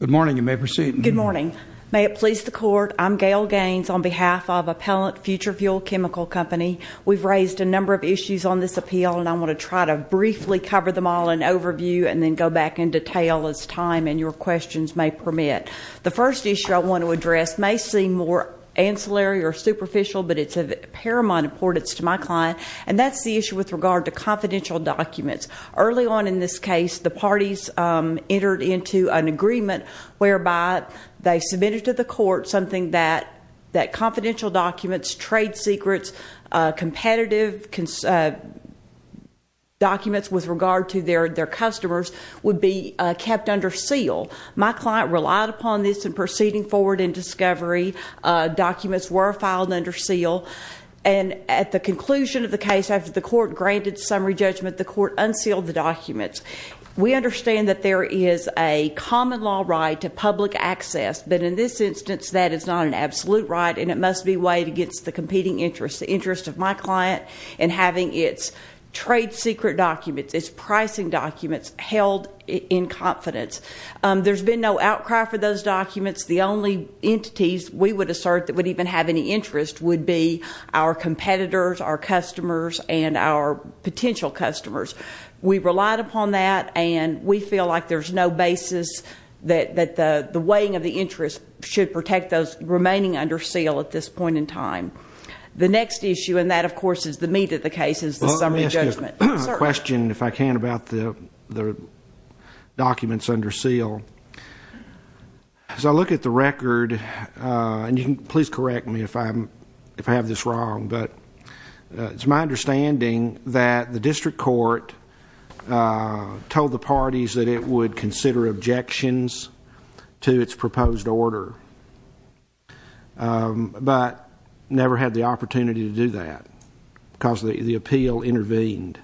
Good morning. You may proceed. Good morning. May it please the Court, I'm Gail Gaines on behalf of Appellant FutureFuel Chemical Company. We've raised a number of issues on this appeal and I want to try to briefly cover them all in overview and then go back in detail as time and your questions may permit. The first issue I want to address may seem more ancillary or superficial, but it's of paramount importance to my client. And that's the issue with regard to confidential documents. Early on in this case, the parties entered into an agreement whereby they submitted to the court something that confidential documents, trade secrets, competitive documents with regard to their customers would be kept under seal. My client relied upon this in proceeding forward in discovery. Documents were filed under seal and at the conclusion of the case, after the court granted summary judgment, the court unsealed the documents. We understand that there is a common law right to public access, but in this instance that is not an absolute right and it must be weighed against the competing interests. The interest of my client in having its trade secret documents, its pricing documents held in confidence. There's been no outcry for those documents. The only entities we would assert that would even have any interest would be our competitors, our customers and our potential customers. We relied upon that and we feel like there's no basis that the weighing of the interest should protect those remaining under seal at this point in time. The next issue, and that of course is the meat of the case, is the summary judgment. I have a question, if I can, about the documents under seal. As I look at the record, and you can please correct me if I have this wrong, but it's my understanding that the district court told the parties that it would consider objections to its proposed order, but never had the opportunity to do that because the appeal intervened.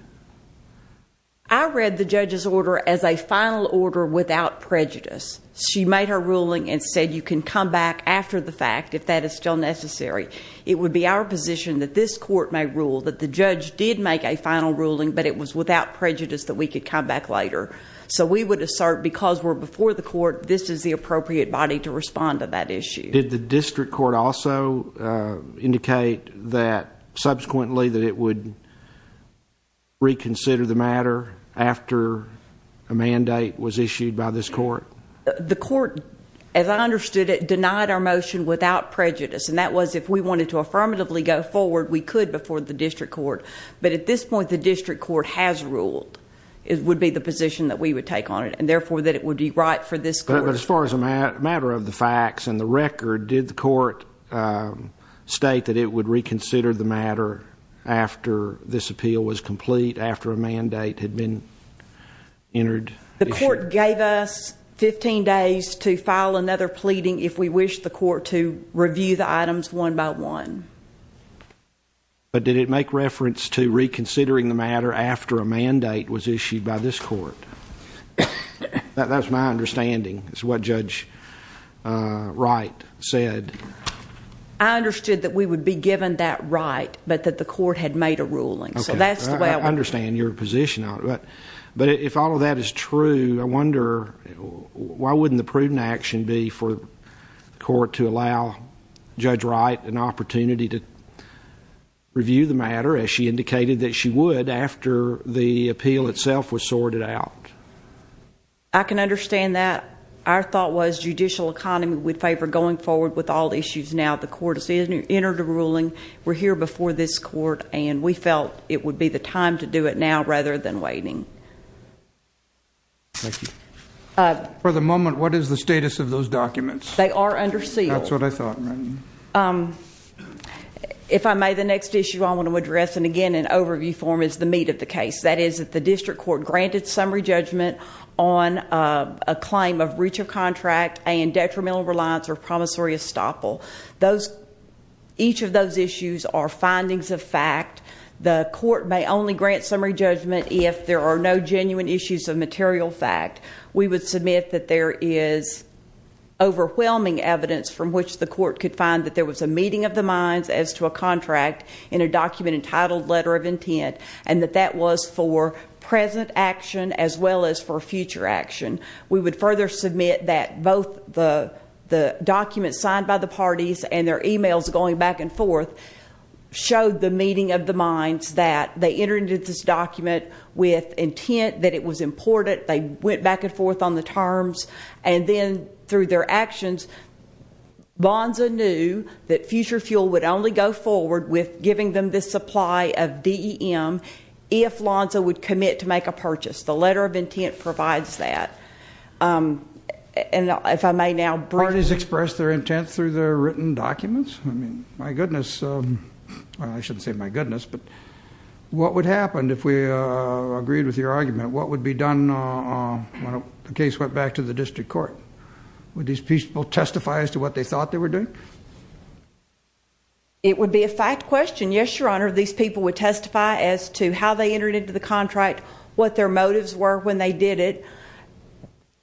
I read the judge's order as a final order without prejudice. She made her ruling and said you can come back after the fact, if that is still necessary. It would be our position that this court may rule that the judge did make a final ruling, but it was without prejudice that we could come back later. So we would assert, because we're before the court, this is the appropriate body to respond to that issue. Did the district court also indicate that subsequently that it would reconsider the order? Did it reconsider the matter after a mandate was issued by this court? The court, as I understood it, denied our motion without prejudice. And that was if we wanted to affirmatively go forward, we could before the district court. But at this point, the district court has ruled, would be the position that we would take on it, and therefore that it would be right for this court. But as far as a matter of the facts and the record, did the court state that it would reconsider the matter after this appeal was complete, after the fact? After a mandate had been entered? The court gave us 15 days to file another pleading if we wished the court to review the items one by one. But did it make reference to reconsidering the matter after a mandate was issued by this court? That's my understanding, is what Judge Wright said. I understood that we would be given that right, but that the court had made a ruling. I understand your position on it. But if all of that is true, I wonder, why wouldn't the prudent action be for the court to allow Judge Wright an opportunity to review the matter, as she indicated that she would, after the appeal itself was sorted out? I can understand that. Our thought was judicial economy would favor going forward with all issues now. The court has entered a ruling. We're here before this court, and we felt it would be the time to do it now rather than waiting. For the moment, what is the status of those documents? They are under seal. That's what I thought. If I may, the next issue I want to address, and again, in overview form, is the meat of the case. That is that the district court granted summary judgment on a claim of breach of contract and detrimental reliance or promissory estoppel. Each of those issues are findings of fact. The court may only grant summary judgment if there are no genuine issues of material fact. We would submit that there is overwhelming evidence from which the court could find that there was a meeting of the minds as to a contract in a document entitled letter of intent, and that that was for present action as well as for future action. We would further submit that both the documents signed by the parties and their e-mails going back and forth showed the meeting of the minds that they entered into this document with intent that it was important. They submitted it. They went back and forth on the terms, and then through their actions, Lonza knew that Future Fuel would only go forward with giving them this supply of DEM if Lonza would commit to make a purchase. The letter of intent provides that. If I may now briefly. Parties express their intent through their written documents? I mean, my goodness. I shouldn't say my goodness, but what would happen if we agreed with your argument? What would be done when the case went back to the district court? Would these people testify as to what they thought they were doing? It would be a fact question. Yes, Your Honor, these people would testify as to how they entered into the contract, what their motives were when they did it.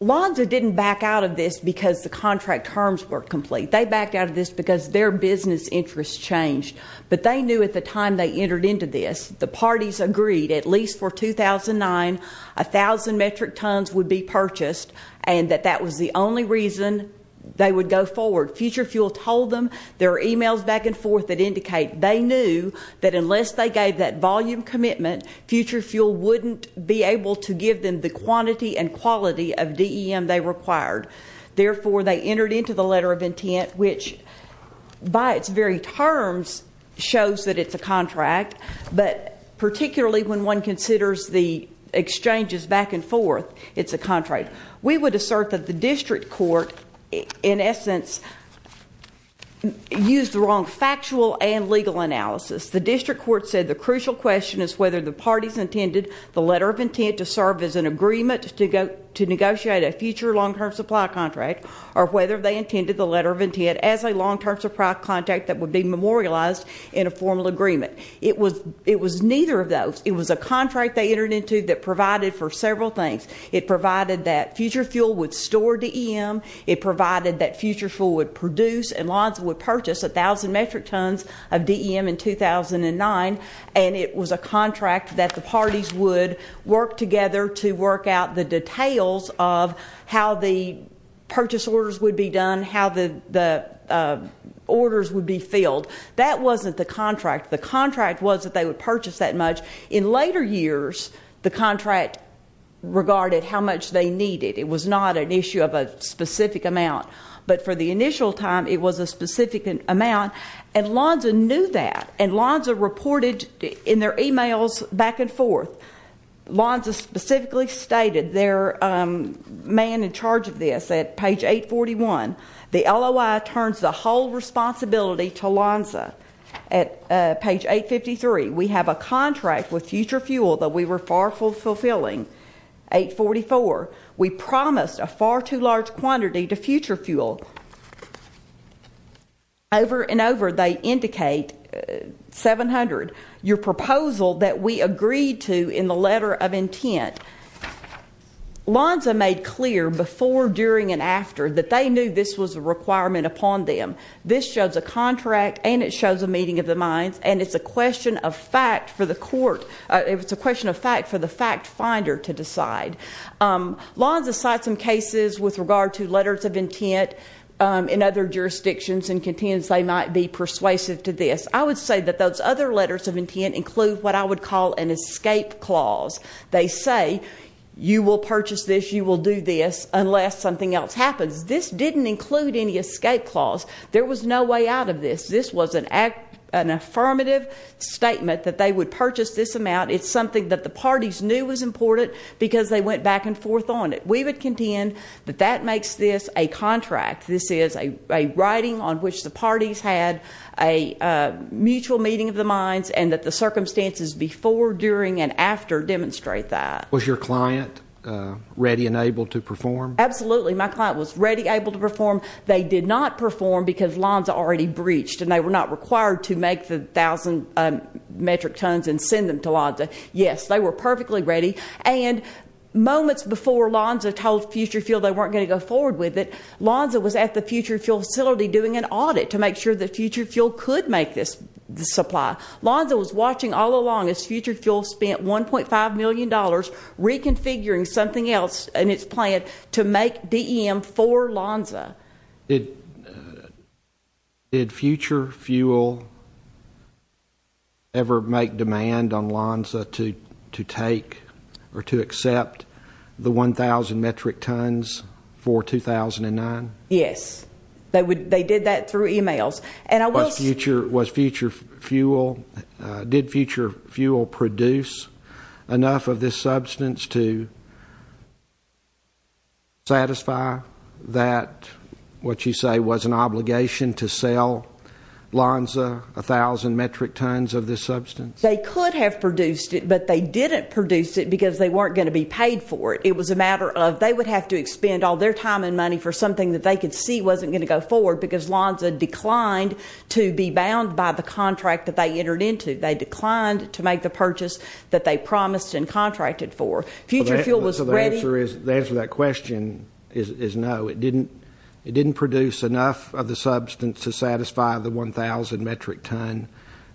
Lonza didn't back out of this because the contract terms were complete. They backed out of this because their business interests changed. But they knew at the time they entered into this, the parties agreed, at least for 2009, a thousand metric tons would be purchased, and that that was the only reason they would go forward. Future Fuel told them, there are emails back and forth that indicate they knew that unless they gave that volume commitment, Future Fuel wouldn't be able to give them the quantity and quality of DEM they required. Therefore, they entered into the letter of intent, which by its very terms shows that it's a contract. But particularly when one considers the exchanges back and forth, it's a contract. We would assert that the district court in essence used the wrong factual and legal analysis. The district court said the crucial question is whether the parties intended the letter of intent to serve as an agreement to negotiate a future long-term supply contract, or whether they intended the letter of intent as a long-term supply contract that would be memorialized in a formal agreement. It was neither of those. It was a contract they entered into that provided for several things. It provided that Future Fuel would store DEM. It provided that Future Fuel would produce and Lonsdale would purchase a thousand metric tons of DEM in 2009. And it was a contract that the parties would work together to work out the details of how the purchase orders would be done, how the orders would be filled. That wasn't the contract. The contract was that they would purchase that much. In later years, the contract regarded how much they needed. It was not an issue of a specific amount. But for the initial time, it was a specific amount. And Lonsdale knew that. And Lonsdale reported in their emails back and forth. Lonsdale specifically stated their man in charge of this at page 841, the LOI turns the whole responsibility to Lonsdale. At page 853, we have a contract with Future Fuel that we were far from fulfilling. Page 844, we promised a far too large quantity to Future Fuel. Over and over they indicate, 700, your proposal that we agreed to in the letter of intent. Lonsdale made clear before, during, and after that they knew this was a requirement upon them. This shows a contract and it shows a meeting of the minds. And it's a question of fact for the court, it's a question of fact for the fact finder to decide. Lonsdale cites some cases with regard to letters of intent in other jurisdictions and contends they might be persuasive to this. I would say that those other letters of intent include what I would call an escape clause. They say, you will purchase this, you will do this, unless something else happens. This didn't include any escape clause. There was no way out of this. This was an affirmative statement that they would purchase this amount. It's something that the parties knew was important because they went back and forth on it. We would contend that that makes this a contract. This is a writing on which the parties had a mutual meeting of the minds and that the circumstances before, during, and after demonstrate that. Was your client ready and able to perform? Absolutely. My client was ready, able to perform. They did not perform because Lonsdale already breached and they were not required to make the thousand metric tons and send them to Lonsdale. Yes, they were perfectly ready. And moments before Lonsdale told Future Fuel they weren't going to go forward with it, Lonsdale was at the Future Fuel facility doing an audit to make sure that Future Fuel could make this supply. Lonsdale was watching all along as Future Fuel spent $1.5 million reconfiguring something else in its plan to make DEM for Lonsdale. Did Future Fuel ever make demand on Lonsdale to take or to accept the 1,000 metric tons for 2009? Yes. They did that through e-mails. Was Future Fuel, did Future Fuel produce enough of this substance to satisfy that what you say was an obligation to sell Lonsdale 1,000 metric tons of this substance? They could have produced it, but they didn't produce it because they weren't going to be paid for it. It was a matter of they would have to expend all their time and money for something that they could see wasn't going to go forward because Lonsdale declined to be bound by the contract that they entered into. They declined to make the purchase that they promised and contracted for. The answer to that question is no. It didn't produce enough of the substance to satisfy the 1,000 metric ton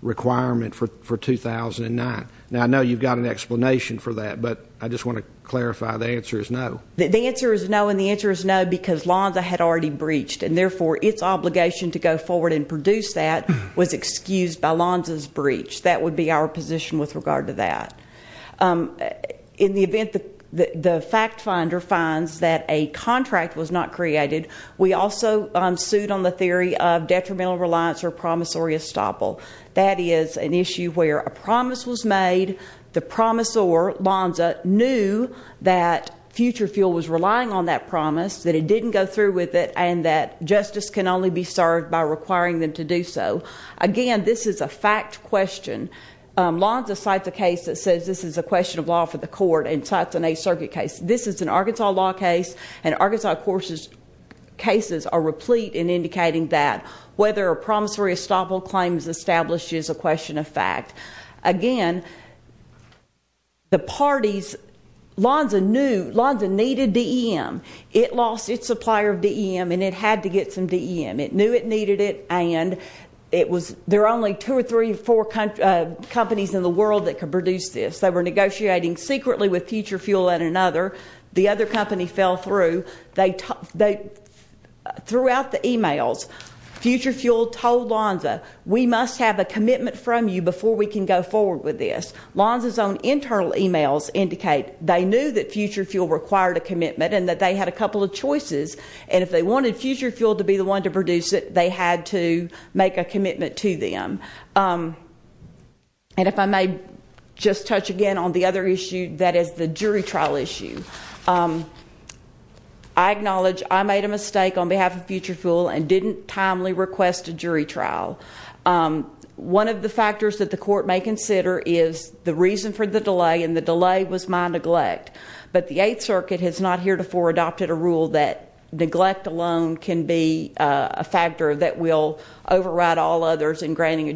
requirement for 2009. Now, I know you've got an explanation for that, but I just want to clarify the answer is no. The answer is no, and the answer is no because Lonsdale had already breached, and therefore its obligation to go forward and produce that was excused by Lonsdale's breach. That would be our position with regard to that. In the event that the fact finder finds that a contract was not created, we also sued on the theory of detrimental reliance or promissory estoppel. That is an issue where a promise was made, the promissor, Lonsdale, knew that Future Fuel was relying on that promise, that it didn't go through with it, and that justice can only be served by requiring them to do so. Again, this is a fact question. Lonsdale cites a case that says this is a question of law for the court and cites an Eighth Circuit case. This is an Arkansas law case, and Arkansas court cases are replete in indicating that whether a promissory estoppel claim is established is a question of fact. Again, the parties, Lonsdale knew, Lonsdale needed DEM. It lost its supplier of DEM, and it had to get some DEM. It knew it needed it, and there are only two or three or four companies in the world that could produce this. They were negotiating secretly with Future Fuel and another. The other company fell through. Throughout the e-mails, Future Fuel told Lonsdale, we must have a commitment from you before we can go forward with this. Lonsdale's own internal e-mails indicate they knew that Future Fuel required a commitment and that they had a couple of choices, and if they wanted Future Fuel to be the one to produce it, they had to make a commitment to them. And if I may just touch again on the other issue, that is the jury trial issue. I acknowledge I made a mistake on behalf of Future Fuel and didn't timely request a jury trial. One of the factors that the court may consider is the reason for the delay, and the delay was my neglect. But the Eighth Circuit has not heretofore adopted a rule that neglect alone can be a factor that will lead to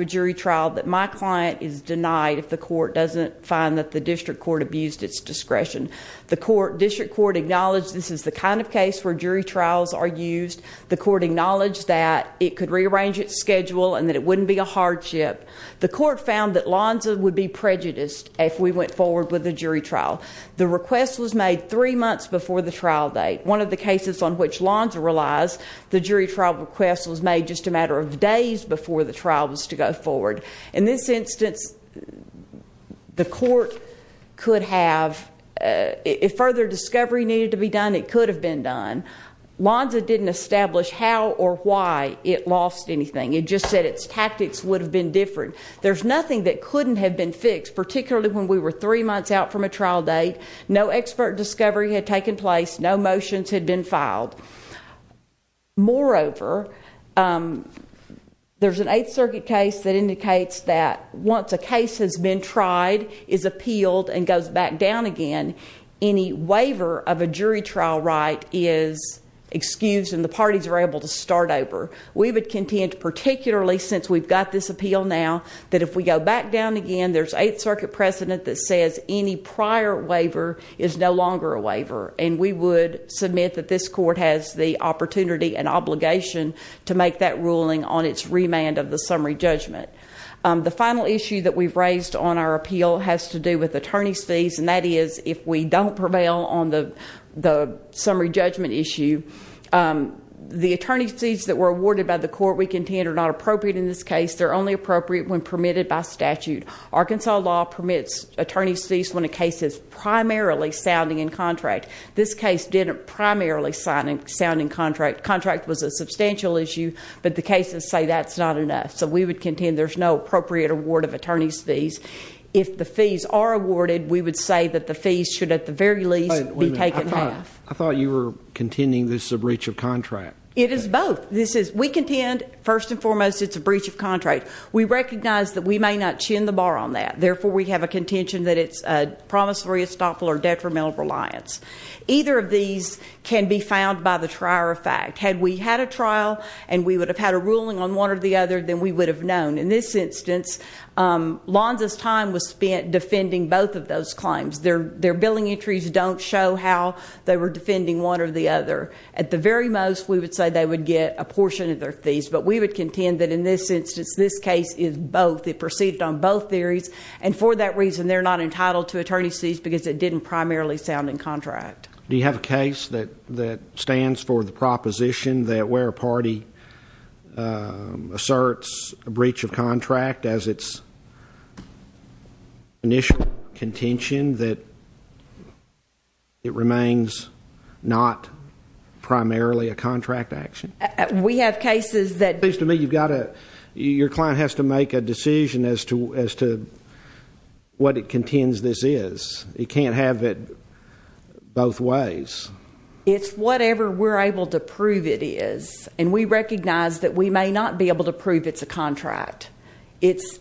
a jury trial that my client is denied if the court doesn't find that the district court abused its discretion. The district court acknowledged this is the kind of case where jury trials are used. The court acknowledged that it could rearrange its schedule and that it wouldn't be a hardship. The court found that Lonsdale would be prejudiced if we went forward with a jury trial. The request was made three months before the trial date. One of the cases on which Lonsdale relies, the jury trial request was made just a matter of days before the trial was to go forward. In this instance, the court could have if further discovery needed to be done, it could have been done. Lonsdale didn't establish how or why it lost anything. It just said its tactics would have been different. There's nothing that couldn't have been fixed, particularly when we were three months out from a trial date. No expert discovery had taken place. No motions had been filed. Moreover, there's an 8th Circuit case that indicates that once a case has been tried, is appealed and goes back down again, any waiver of a jury trial right is excused and the parties are able to start over. We would contend, particularly since we've got this appeal now, that if we go back down again, there's 8th Circuit precedent that says any prior waiver is no longer a waiver. We would submit that this court has the opportunity and obligation to make that ruling on its remand of the summary judgment. The final issue that we've raised on our appeal has to do with attorney's fees, and that is if we don't prevail on the summary judgment issue, the attorney's fees that were awarded by the court, we contend, are not appropriate in this case. They're only appropriate when permitted by statute. Arkansas law permits attorney's fees when a case is primarily sounding in contract. This case didn't primarily sound in contract. Contract was a substantial issue, but the cases say that's not enough. So we would contend there's no appropriate award of attorney's fees. If the fees are awarded, we would say that the fees should at the very least be taken half. I thought you were contending this is a breach of contract. It is both. We contend, first and foremost, it's a breach of contract. We recognize that we may not chin the bar on that. Therefore, we have a contention that it's a promissory estoppel or detrimental reliance. Either of these can be found by the trier of fact. Had we had a trial and we would have had a ruling on one or the other, then we would have known. In this instance, Lonza's time was spent defending both of those claims. Their billing entries don't show how they were defending one or the other. At the very most, we would say they would get a portion of their fees. But we would contend that in this instance, this case is both. It proceeded on both theories. And for that reason, they're not entitled to attorney's fees because it didn't primarily sound in contract. Do you have a case that stands for the proposition that where a party asserts a breach of contract as its initial contention, that it remains not primarily a contract action? It seems to me your client has to make a decision as to what it contends this is. You can't have it both ways. It's whatever we're able to prove it is. And we recognize that we may not be able to prove it's a contract. It's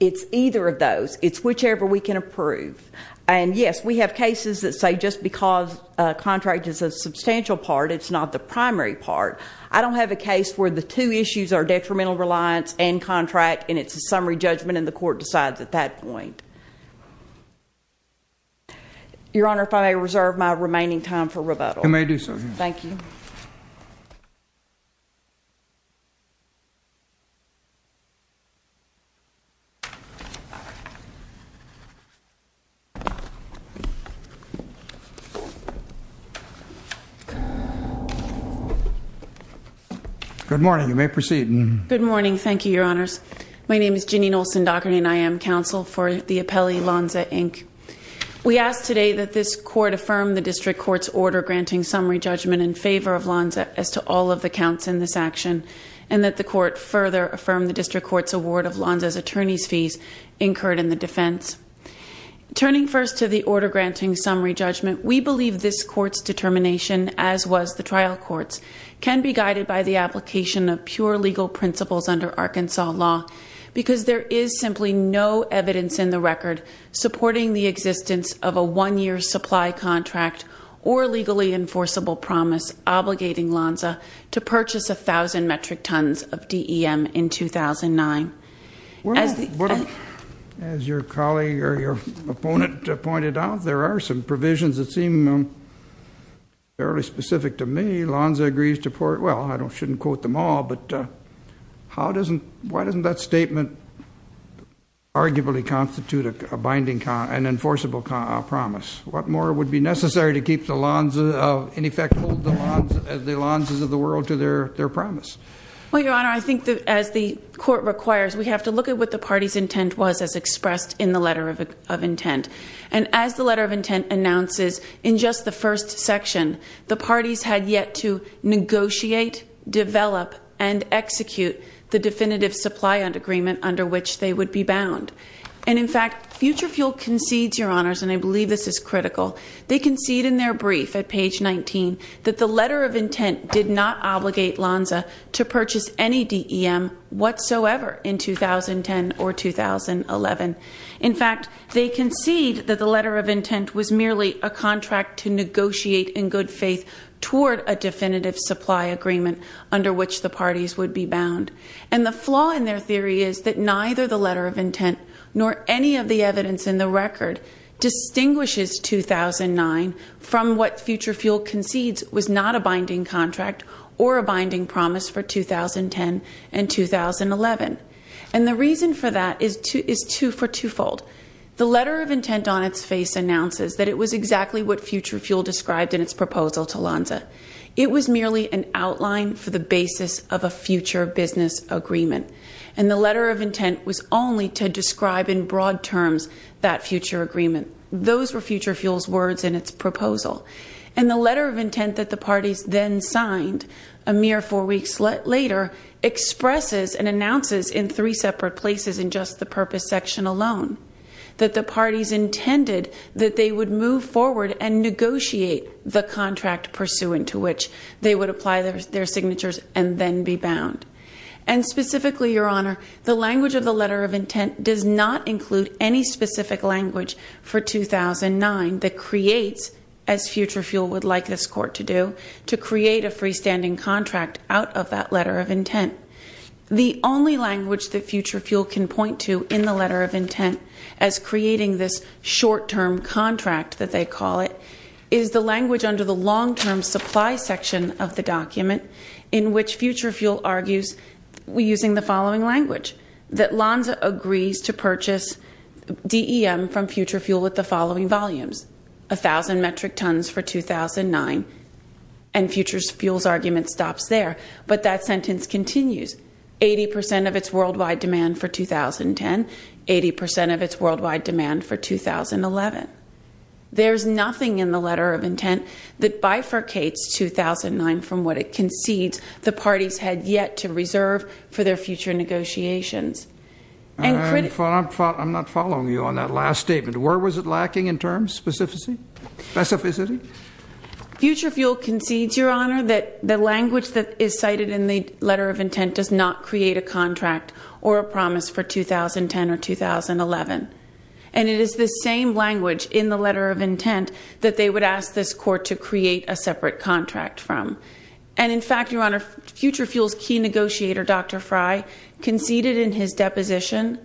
either of those. It's whichever we can approve. And yes, we have cases that say just because a contract is a substantial part, it's not the primary part. I don't have a case where the two issues are detrimental reliance and contract and it's a summary judgment and the court decides at that point. Your Honor, if I may reserve my remaining time for rebuttal. You may do so, Your Honor. Thank you. Good morning. You may proceed. Good morning. Thank you, Your Honors. My name is Ginny Nolson Dockery and I am counsel for the Appellee Lonza, Inc. We ask today that this court affirm the district court's order granting summary judgment in favor of Lonza as to all of the counts in this action and that the court further affirm the district court's award of Lonza's attorney's fees incurred in the defense. Turning first to the order granting summary judgment, we believe this court's determination, as was the trial court's, can be guided by the application of pure legal principles under Arkansas law because there is simply no evidence in the record supporting the existence of a district attorney's fee for Lonza to purchase 1,000 metric tons of DEM in 2009. As your colleague or your opponent pointed out, there are some provisions that seem fairly specific to me. Lonza agrees to, well, I shouldn't quote them all, but how doesn't, why doesn't that statement arguably constitute a binding, an enforceable promise? What more would be necessary to keep the Lonza, in effect hold the Lonza, the Lonzas of the world to their promise? Well, your Honor, I think that as the court requires, we have to look at what the party's intent was as expressed in the letter of intent. And as the letter of intent announces in just the first section, the parties had yet to negotiate, develop, and execute the definitive supply agreement under which they would be bound. And in fact, Future Fuel concedes, your Honors, and I believe this is critical, they concede in their brief at page 19 that the letter of intent did not obligate Lonza to purchase any DEM whatsoever in 2010 or 2011. In fact, they concede that the letter of intent was merely a contract to negotiate in good faith toward a definitive supply agreement under which the party's intent, nor any of the evidence in the record, distinguishes 2009 from what Future Fuel concedes was not a binding contract or a binding promise for 2010 and 2011. And the reason for that is two, is two, for twofold. The letter of intent on its face announces that it was exactly what Future Fuel described in its proposal to Lonza. It was merely an outline for the basis of a future business agreement. And the letter of intent was only to describe in broad terms that future agreement. Those were Future Fuel's words in its proposal. And the letter of intent that the parties then signed a mere four weeks later expresses and announces in three separate places in just the purpose section alone, that the parties intended that they would move forward and negotiate the contract pursuant to which they would apply their signatures and then be bound. And specifically, Your Honor, the language of the letter of intent does not include any specific language for 2009 that creates, as Future Fuel would like this court to do, to create a freestanding contract out of that letter of intent. The only language that Future Fuel can point to in the letter of intent as creating this short-term contract that they call it is the language under the long-term supply section of the document in which Future Fuel argues using the following language, that Lonza agrees to purchase DEM from Future Fuel at the following volumes, 1,000 metric tons for 2009. And Future Fuel's argument stops there. But that sentence continues. Eighty percent of its worldwide demand for 2010. Eighty percent of its worldwide demand for 2011. There's nothing in the letter of intent that bifurcates 2009 from what it concedes the parties had yet to reserve for their future negotiations. I'm not following you on that last statement. Where was it lacking in terms, specificity? Future Fuel concedes, Your Honor, that the language that is cited in the letter of intent does not create a contract or a promise for 2010 or 2011. And it is the same language in the letter of intent that they would ask this court to create a separate contract from. And in fact, Your Honor, Future Fuel's key negotiator, Dr. Fry, conceded in his deposition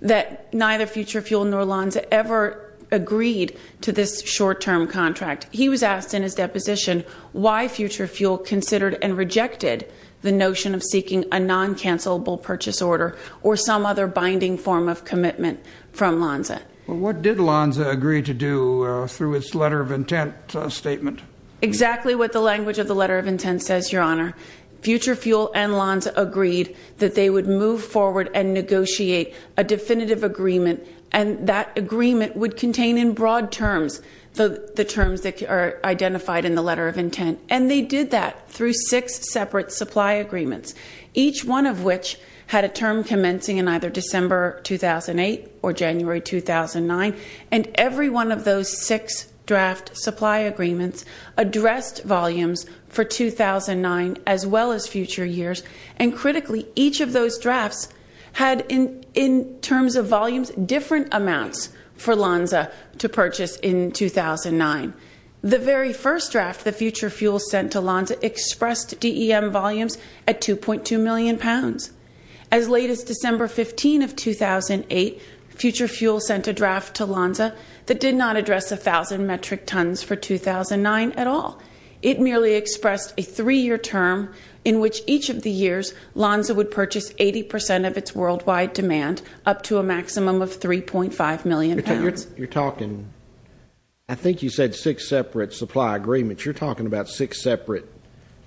that neither Future Fuel nor Lonza ever agreed to this short-term contract. He was asked in his deposition why Future Fuel considered and rejected the notion of seeking a non-cancellable purchase order or some other binding form of commitment from Lonza. What did Lonza agree to do through its letter of intent statement? Exactly what the language of the letter of intent says, Your Honor. Future Fuel and Lonza agreed that they would move forward and negotiate a definitive agreement, and that agreement would contain in broad terms the terms that are identified in the letter of intent. And they did that through six separate supply agreements, each one of which had a term commencing in either December 2008 or January 2009. And every one of those six draft supply agreements addressed volumes for 2009 as well as future years. And critically, each of those drafts had, in terms of volumes, different amounts for Lonza to purchase in 2009. The very first draft that Future Fuel sent to Lonza expressed DEM volumes at 2.2 million pounds. As late as December 15 of 2008, Future Fuel sent a draft to Lonza that did not address 1,000 metric tons for 2009 at all. It merely expressed a three-year term in which each of the years Lonza would purchase 80 percent of its worldwide demand, up to a maximum of 3.5 million pounds. You're talking, I think you said six separate supply agreements. You're talking about six separate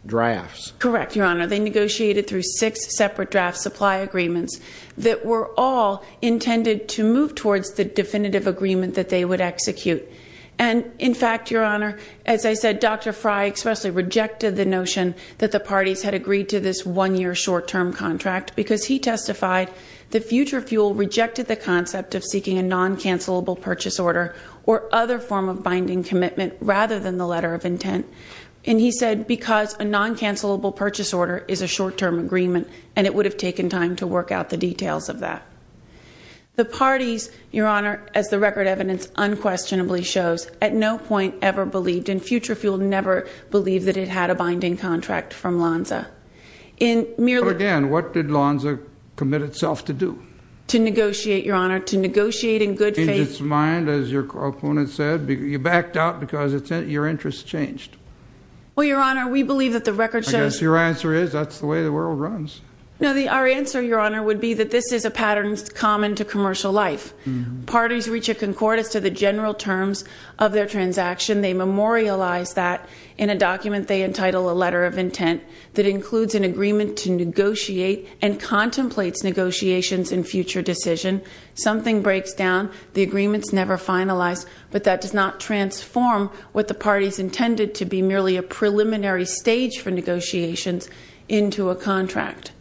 drafts. Correct, Your Honor. They negotiated through six separate draft supply agreements that were all intended to move towards the definitive agreement that they would execute. And in fact, Your Honor, as I said, Dr. Frey expressly rejected the notion that the parties had agreed to this one-year short-term contract because he testified that Future Fuel rejected the concept of seeking a non-cancelable purchase order or other form of binding commitment rather than the letter of intent. And he said because a non-cancelable purchase order is a short-term agreement and it would have taken time to work out the details of that. The parties, Your Honor, as the record evidence unquestionably shows, at no point ever believed, and Future Fuel never believed that it had a binding contract from Lonza. Again, what did Lonza commit itself to do? To negotiate, Your Honor, to negotiate in good faith. In its mind, as your opponent said, you backed out because your interests changed. Well, Your Honor, we believe that the record shows. I guess your answer is that's the way the world runs. No, our answer, Your Honor, would be that this is a pattern common to commercial life. Parties reach a concordance to the general terms of their transaction. They memorialize that in a document they entitle a letter of intent that includes an agreement to negotiate and contemplates negotiations and future decision. Something breaks down. The agreement's never finalized, but that does not transform what the parties intended to be merely a preliminary stage for negotiations into a contract.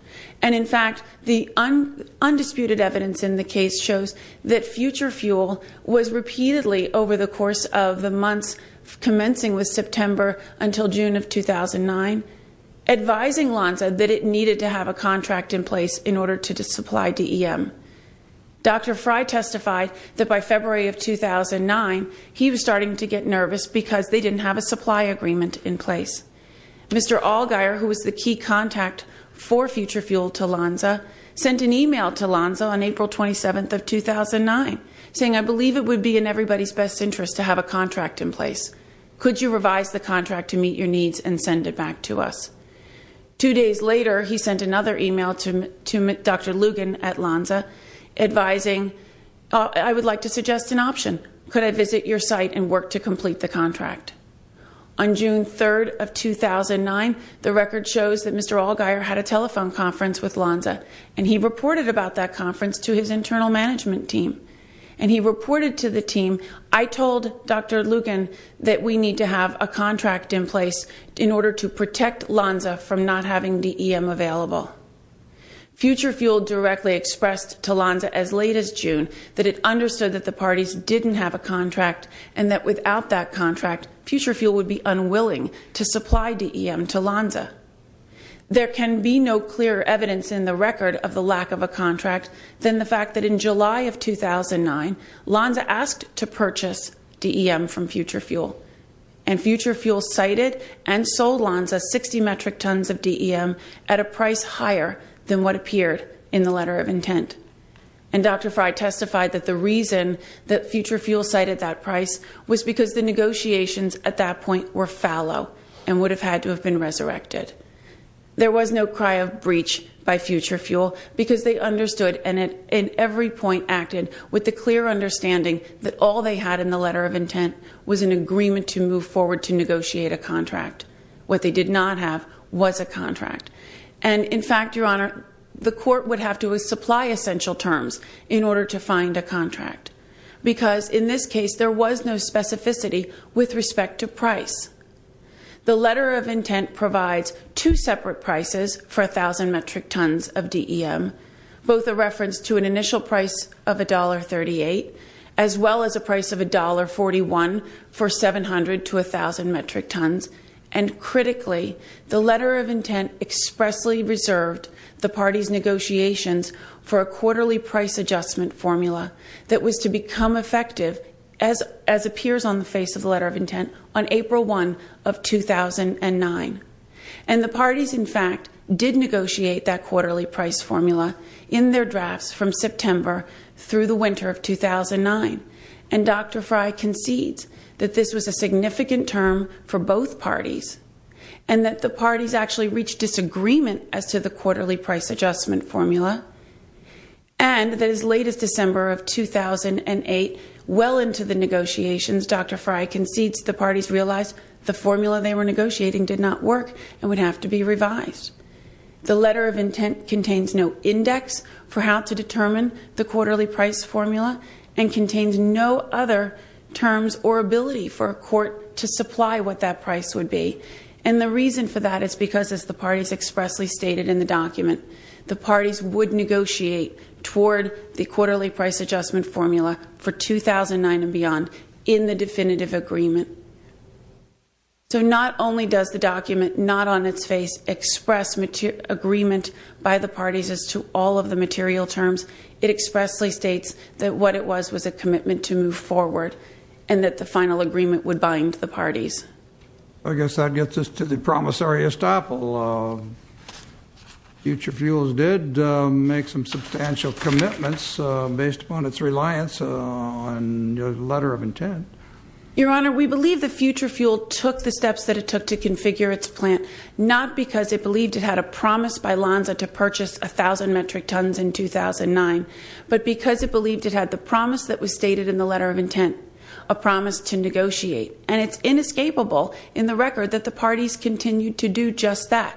And in fact, the undisputed evidence in the case shows that Future Fuel was repeatedly over the course of the months commencing with September until June of 2009 advising Lonza that it needed to have a contract in place in order to supply DEM. Dr. Frey testified that by February of 2009, he was starting to get nervous because they didn't have a supply agreement in place. Mr. Allgaier, who was the key contact for Future Fuel to Lonza, sent an email to Lonza on April 27th of 2009 saying, I believe it would be in everybody's best interest to have a contract in place. Could you revise the contract to meet your needs and send it back to us? Two days later, he sent another email to Dr. Lugin at Lonza advising, I would like to suggest an option. Could I visit your site and work to complete the contract? On June 3rd of 2009, the record shows that Mr. Allgaier had a telephone conference with Lonza and he reported about that conference to his internal management team. He reported to the team, I told Dr. Lugin that we need to have a contract in place in order to protect Lonza from not having DEM available. Future Fuel directly expressed to Lonza as late as June that it understood that the parties didn't have a contract and that without that contract, Future Fuel would be in the record of the lack of a contract than the fact that in July of 2009, Lonza asked to purchase DEM from Future Fuel and Future Fuel cited and sold Lonza 60 metric tons of DEM at a price higher than what appeared in the letter of intent. And Dr. Fry testified that the reason that Future Fuel cited that price was because the negotiations at that point were fallow and would have had to have been resurrected. There was no cry of breach by Future Fuel because they understood and at every point acted with the clear understanding that all they had in the letter of intent was an agreement to move forward to negotiate a contract. What they did not have was a contract. And in fact, Your Honor, the court would have to supply essential terms in order to find a contract because in this case there was no specificity with respect to price. The letter of intent provides two separate prices for 1,000 metric tons of DEM, both a reference to an initial price of $1.38 as well as a price of $1.41 for 700 to 1,000 metric tons. And critically, the letter of intent expressly reserved the parties' negotiations for a quarterly price adjustment formula that was to become effective as appears on the face of the letter of intent on April 1 of 2009. And the parties, in fact, did negotiate that quarterly price formula in their drafts from September through the winter of 2009. And Dr. Fry concedes that this was a significant term for both parties and that the parties actually reached disagreement as to the quarterly price adjustment formula and that as late as December of 2008, well into the negotiations, Dr. Fry concedes the parties realized the formula they were negotiating did not work and would have to be revised. The letter of intent contains no index for how to determine the quarterly price formula and contains no other terms or ability for a court to supply what that price would be. And the reason for that is because, as the parties expressly stated in the document, the parties would negotiate toward the quarterly price adjustment formula for 2009 and beyond in the definitive agreement. So not only does the document not on its face express agreement by the parties as to all of the material terms, it expressly states that what it was was a commitment to move forward and that the final agreement would bind the parties. I guess that gets us to the promissory estoppel. Future Fuels did make some substantial commitments based upon its reliance on the letter of intent. Your Honor, we believe that Future Fuel took the steps that it took to configure its plant, not because it believed it had a promise by Lonza to purchase 1,000 metric tons in 2009, but because it believed it had the promise that was stated in the letter of intent, a promise to negotiate. And it's inescapable in the record that the parties continued to do just that.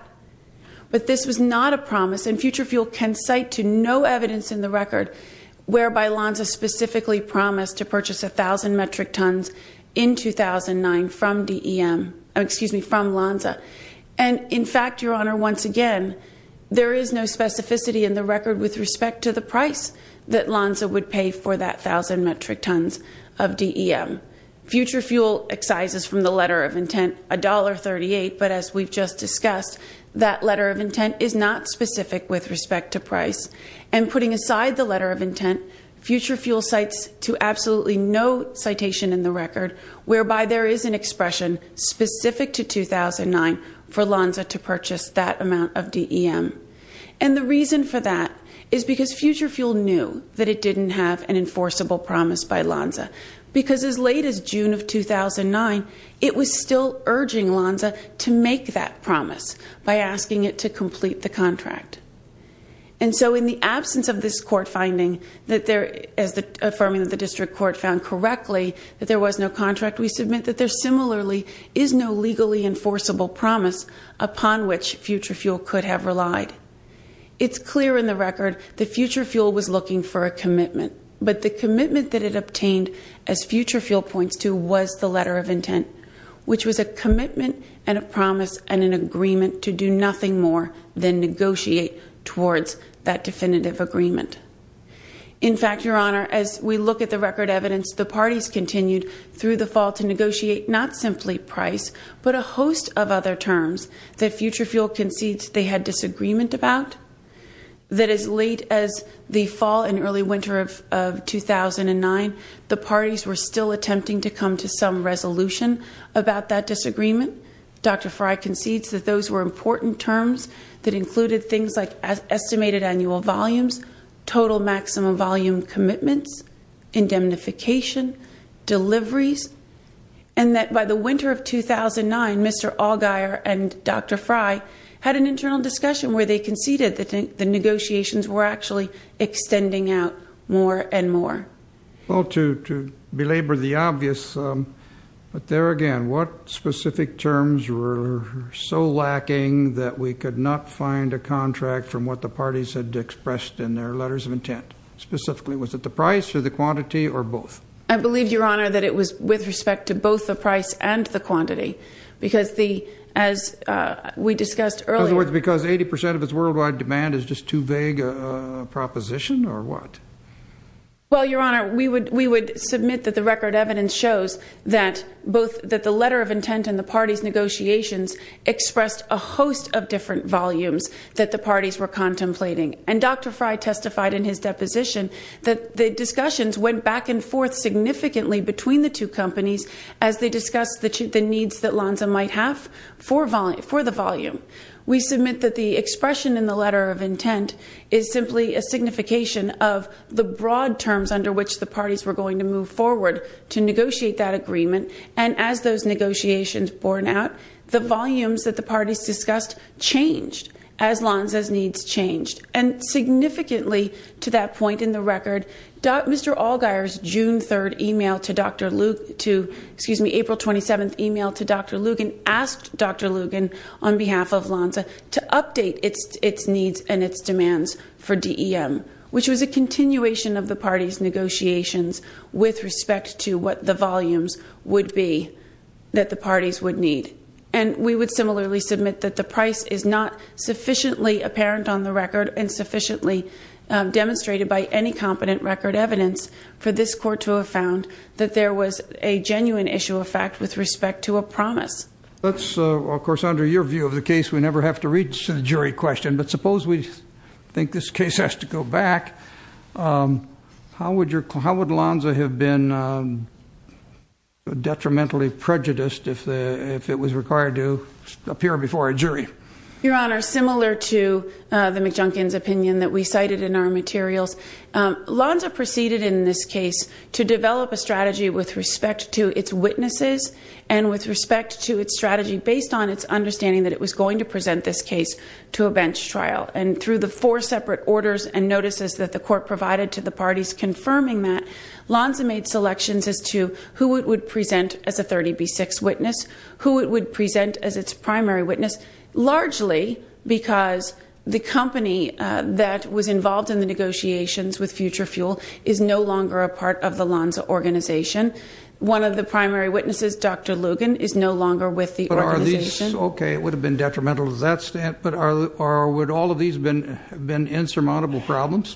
But this was not a promise, and Future Fuel can cite to no evidence in the record whereby Lonza specifically promised to purchase 1,000 metric tons in 2009 from Lonza. And in fact, Your Honor, once again, there is no specificity in the record with respect to the price that Lonza would pay for that 1,000 metric tons of DEM. Future Fuel excises from the letter of intent $1.38, but as we've just discussed, that letter of intent is not specific with respect to price. And putting aside the letter of intent, Future Fuel cites to absolutely no citation in the record whereby there is an expression specific to 2009 for Lonza to purchase that amount of DEM. And the reason for that is because Future Fuel knew that it didn't have an enforceable promise by Lonza, because as late as June of 2009, it was still urging Lonza to make that promise by asking it to complete the contract. And so in the absence of this court finding, as affirming that the district court found correctly that there was no contract, we submit that there similarly is no legally enforceable promise upon which Future Fuel could have relied. It's clear in the record that Future Fuel was looking for a commitment, but the commitment that it obtained, as Future Fuel points to, was the letter of intent, which was a commitment and a promise and an agreement to do nothing more than negotiate towards that definitive agreement. In fact, Your Honor, as we look at the record evidence, the parties continued through the fall to negotiate not simply price, but a host of other terms that Future Fuel concedes they had disagreement about. That as late as the fall and early winter of 2009, the parties were still attempting to come to some resolution about that disagreement. Dr. Frey concedes that those were important terms that included things like estimated annual volumes, total maximum volume commitments, indemnification, deliveries, and that by the winter of 2009, Mr. Allgaier and Dr. Frey had an internal discussion where they conceded that the negotiations were actually extending out more and more. Well, to belabor the obvious, but there again, what specific terms were so lacking that we could not find a contract from what the parties had expressed in their letters of intent? Specifically, was it the price or the quantity or both? I believe, Your Honor, that it was with respect to both the price and the quantity. Because the, as we discussed earlier... In other words, because 80% of its worldwide demand is just too vague a proposition or what? Well, Your Honor, we would submit that the record evidence shows that both the letter of intent and the parties' negotiations expressed a host of different volumes that the parties were contemplating. And Dr. Frey testified in his deposition that the discussions went back and forth significantly between the two companies as they discussed the needs that Lanza might have for the volume. We submit that the expression in the letter of intent is simply a signification of the broad terms under which the parties were going to move forward to negotiate that agreement. And as those negotiations borne out, the volumes that the parties discussed changed as Lanza's needs changed. And significantly, to that point in the record, Mr. Allgaier's June 3rd email to Dr. Lugin... Excuse me. April 27th email to Dr. Lugin asked Dr. Lugin, on behalf of Lanza, to update its needs and its demands for DEM, which was a continuation of the parties' negotiations with respect to what the volumes would be and we would similarly submit that the price is not sufficiently apparent on the record and sufficiently demonstrated by any competent record evidence for this court to have found that there was a genuine issue of fact with respect to a promise. Let's, of course, under your view of the case, we never have to read to the jury question, but suppose we think this case has to go back, how would Lanza have been detrimentally prejudiced if it was required to appear before a jury? Your Honor, similar to the McJunkins opinion that we cited in our materials, Lanza proceeded in this case to develop a strategy with respect to its witnesses and with respect to its strategy based on its understanding that it was going to present this case to a bench trial. And through the four separate orders and notices that the court provided to the parties confirming that, Lanza made selections as to who it would present as a 30B6 witness, who it would present as its primary witness, largely because the company that was involved in the negotiations with FutureFuel is no longer a part of the Lanza organization. One of the primary witnesses, Dr. Lugin, is no longer with the organization. Okay, it would have been detrimental to that but would all of these have been insurmountable problems?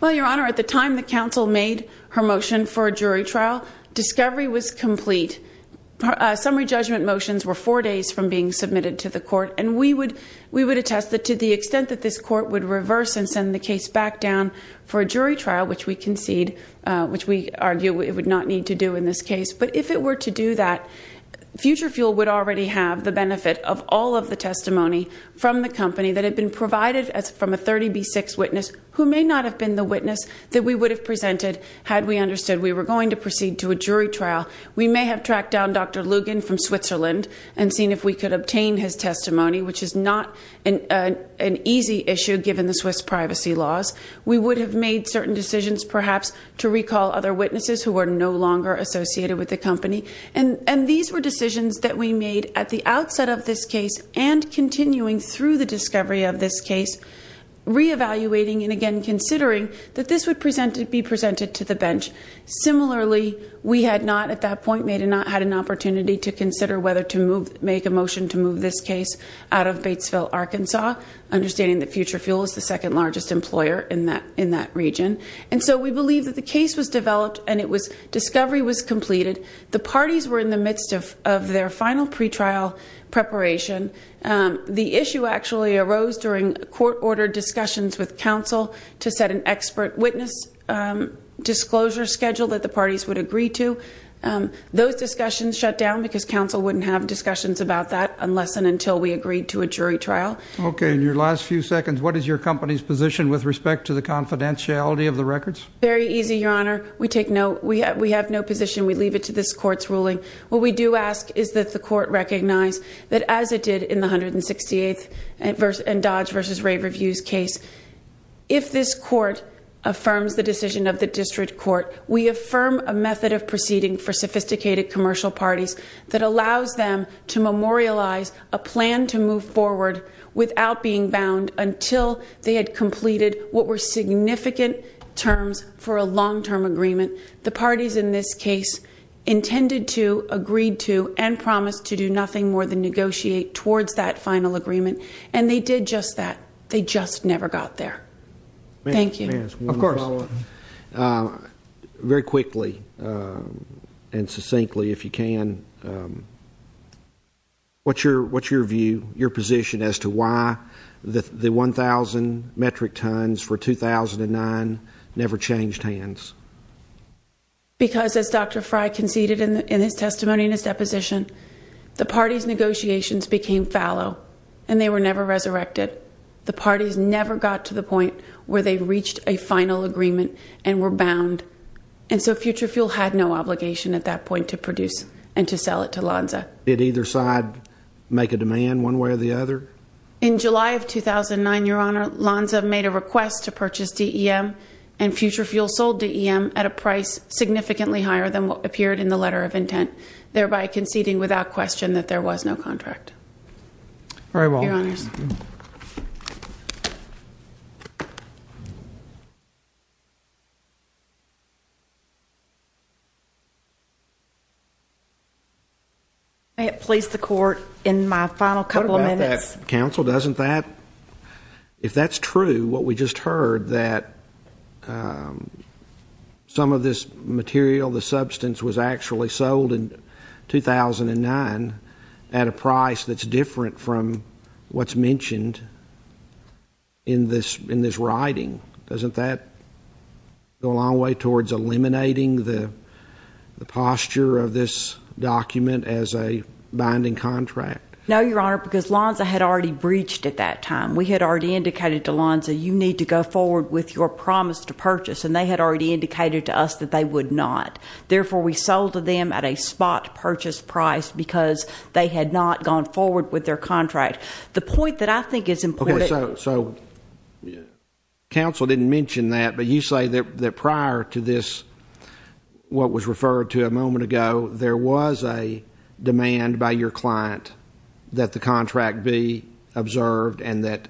Well, Your Honor, at the time the counsel made her motion for a jury trial, discovery was complete. Summary judgment motions were four days from being submitted to the court and we would attest that to the extent that this court would reverse and send the case back down for a jury trial, which we concede, which we argue it would not need to do in this case, but if it were to do that, FutureFuel would already have the benefit of all of the testimony from the company that had been provided from a 30B6 witness who may not have been the witness that we would have presented had we understood we were going to proceed to a jury trial. We may have tracked down Dr. Lugin from Switzerland and seen if we could obtain his testimony, which is not an easy issue given the Swiss privacy laws. We would have made certain decisions, perhaps, to recall other witnesses who were no longer associated with the company. And these were decisions that we made at the outset of this case and continuing through the discovery of this case, reevaluating and again considering that this would be presented to the bench. Similarly, we had not at that point had an opportunity to consider whether to move, make a motion to move this case out of Batesville, Arkansas, understanding that FutureFuel is the second largest employer in that region. And so we believe that the case was developed and discovery was completed. The parties were in the midst of their final pre-trial preparation. The issue actually arose during court-ordered discussions with counsel to set an expert witness disclosure schedule that the parties would agree to. Those discussions shut down because counsel wouldn't have So, Ms. Lugin, what is your company's position with respect to the confidentiality of the records? Very easy, Your Honor. We take no, we have no position. We leave it to this court's ruling. What we do ask is that the court recognize that as it did in the 168th and Dodge versus Ray Reviews case, if this court affirms the decision of the district court, we affirm a method of proceeding for sophisticated commercial parties that allows them to memorialize a plan to move forward without being bound until they had completed what were significant terms for a long-term agreement. The parties in this case intended to, agreed to, and promised to do nothing more than negotiate towards that final agreement. And they did just that. They just very quickly and succinctly, if you can, what's your view, your position as to why the 1,000 metric tons for 2009 never changed hands? Because as Dr. Fry conceded in his testimony and his deposition, the parties' negotiations became fallow and they were never resurrected. The parties never got to the point where they reached a final agreement and were bound. And so Future Fuel had no obligation at that point to produce and to sell it to Lonza. Did either side make a demand one way or the other? In July of 2009, Your Honor, Lonza made a request to purchase DEM and Future Fuel sold DEM at a price significantly higher than what appeared in the letter of intent, thereby conceding without question that there was no contract. May it please the Court, in my final couple of minutes. What about that, Counsel, doesn't that, if that's true, what we just heard, that some of this material, the substance was actually sold in 2009 at a price that's different from what's mentioned in this writing? Doesn't that go a long way towards eliminating the posture of this document as a binding contract? No, Your Honor, because Lonza had already breached at that time. We had already indicated to Lonza, you need to go forward with your promise to purchase, and they had already indicated to us that they would not. Therefore, we sold to them at a spot purchase price because they had not gone forward with their contract. The point that I think is important. Counsel didn't mention that, but you say that prior to this, what was referred to a moment ago, there was a demand by your client that the contract be observed and that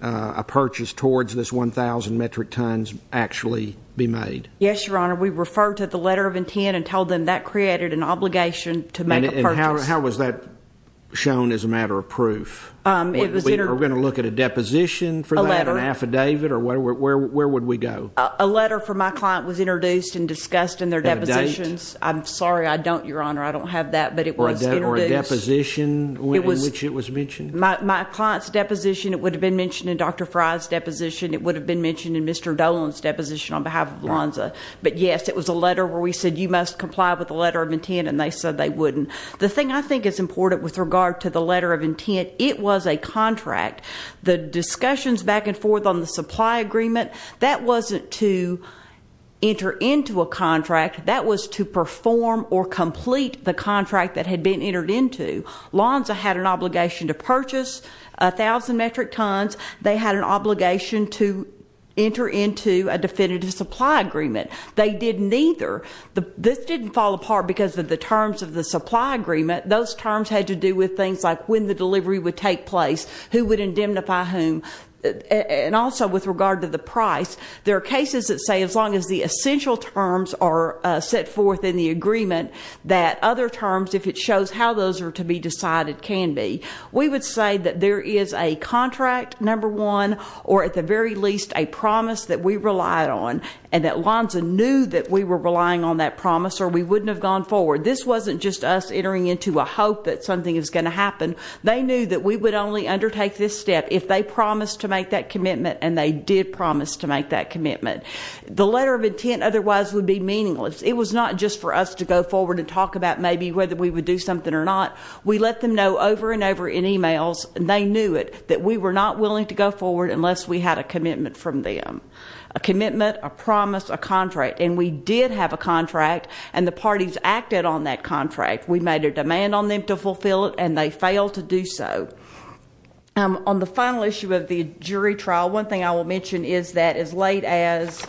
a purchase towards this 1,000 metric tons actually be made. Yes, Your Honor, we referred to the letter of intent and told them that created an obligation to make a purchase. Were we going to look at a deposition for that, an affidavit, or where would we go? A letter from my client was introduced and discussed in their depositions. I'm sorry, I don't, Your Honor, I don't have that, but it was introduced. Or a deposition in which it was mentioned? My client's deposition, it would have been mentioned in Dr. Frye's deposition, it would have been mentioned in Mr. Dolan's deposition on behalf of Lonza, but yes, it was a letter where we said, you must comply with the letter of intent, and they said they wouldn't. The thing I think is important with regard to the letter of intent, it was a contract. The discussions back and forth on the supply agreement, that wasn't to enter into a contract, that was to perform or complete the contract that had been entered into. Lonza had an obligation to purchase 1,000 metric tons. They had an obligation to enter into a contract. This didn't fall apart because of the terms of the supply agreement. Those terms had to do with things like when the delivery would take place, who would indemnify whom, and also with regard to the price. There are cases that say as long as the essential terms are set forth in the agreement, that other terms, if it shows how those are to be decided, can be. We would say that there is a contract, number one, or at the very least a promise that we relied on, and that Lonza knew that we were relying on that promise or we wouldn't have gone forward. This wasn't just us entering into a hope that something was going to happen. They knew that we would only undertake this step if they promised to make that commitment, and they did promise to make that commitment. The letter of intent otherwise would be meaningless. It was not just for us to go forward and talk about maybe whether we would do something or not. We let them know over and over in e-mails, and they knew it, that we were not willing to go forward unless we had a commitment from them. A commitment, a promise, a contract, and we did have a contract, and the parties acted on that contract. We made a demand on them to fulfill it, and they failed to do so. On the final issue of the jury trial, one thing I will mention is that as late as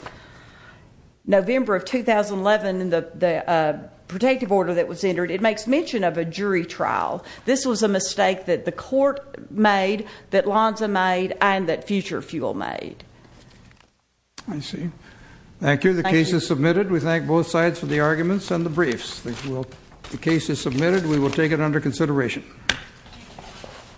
November of 2011 in the protective order that was entered, it makes mention of a jury trial. This was a mistake that the court made, that Lonza made, and that Future Fuel made. I see. Thank you. The case is submitted. We thank both sides for the arguments and the briefs. The case is submitted. We will take it under consideration.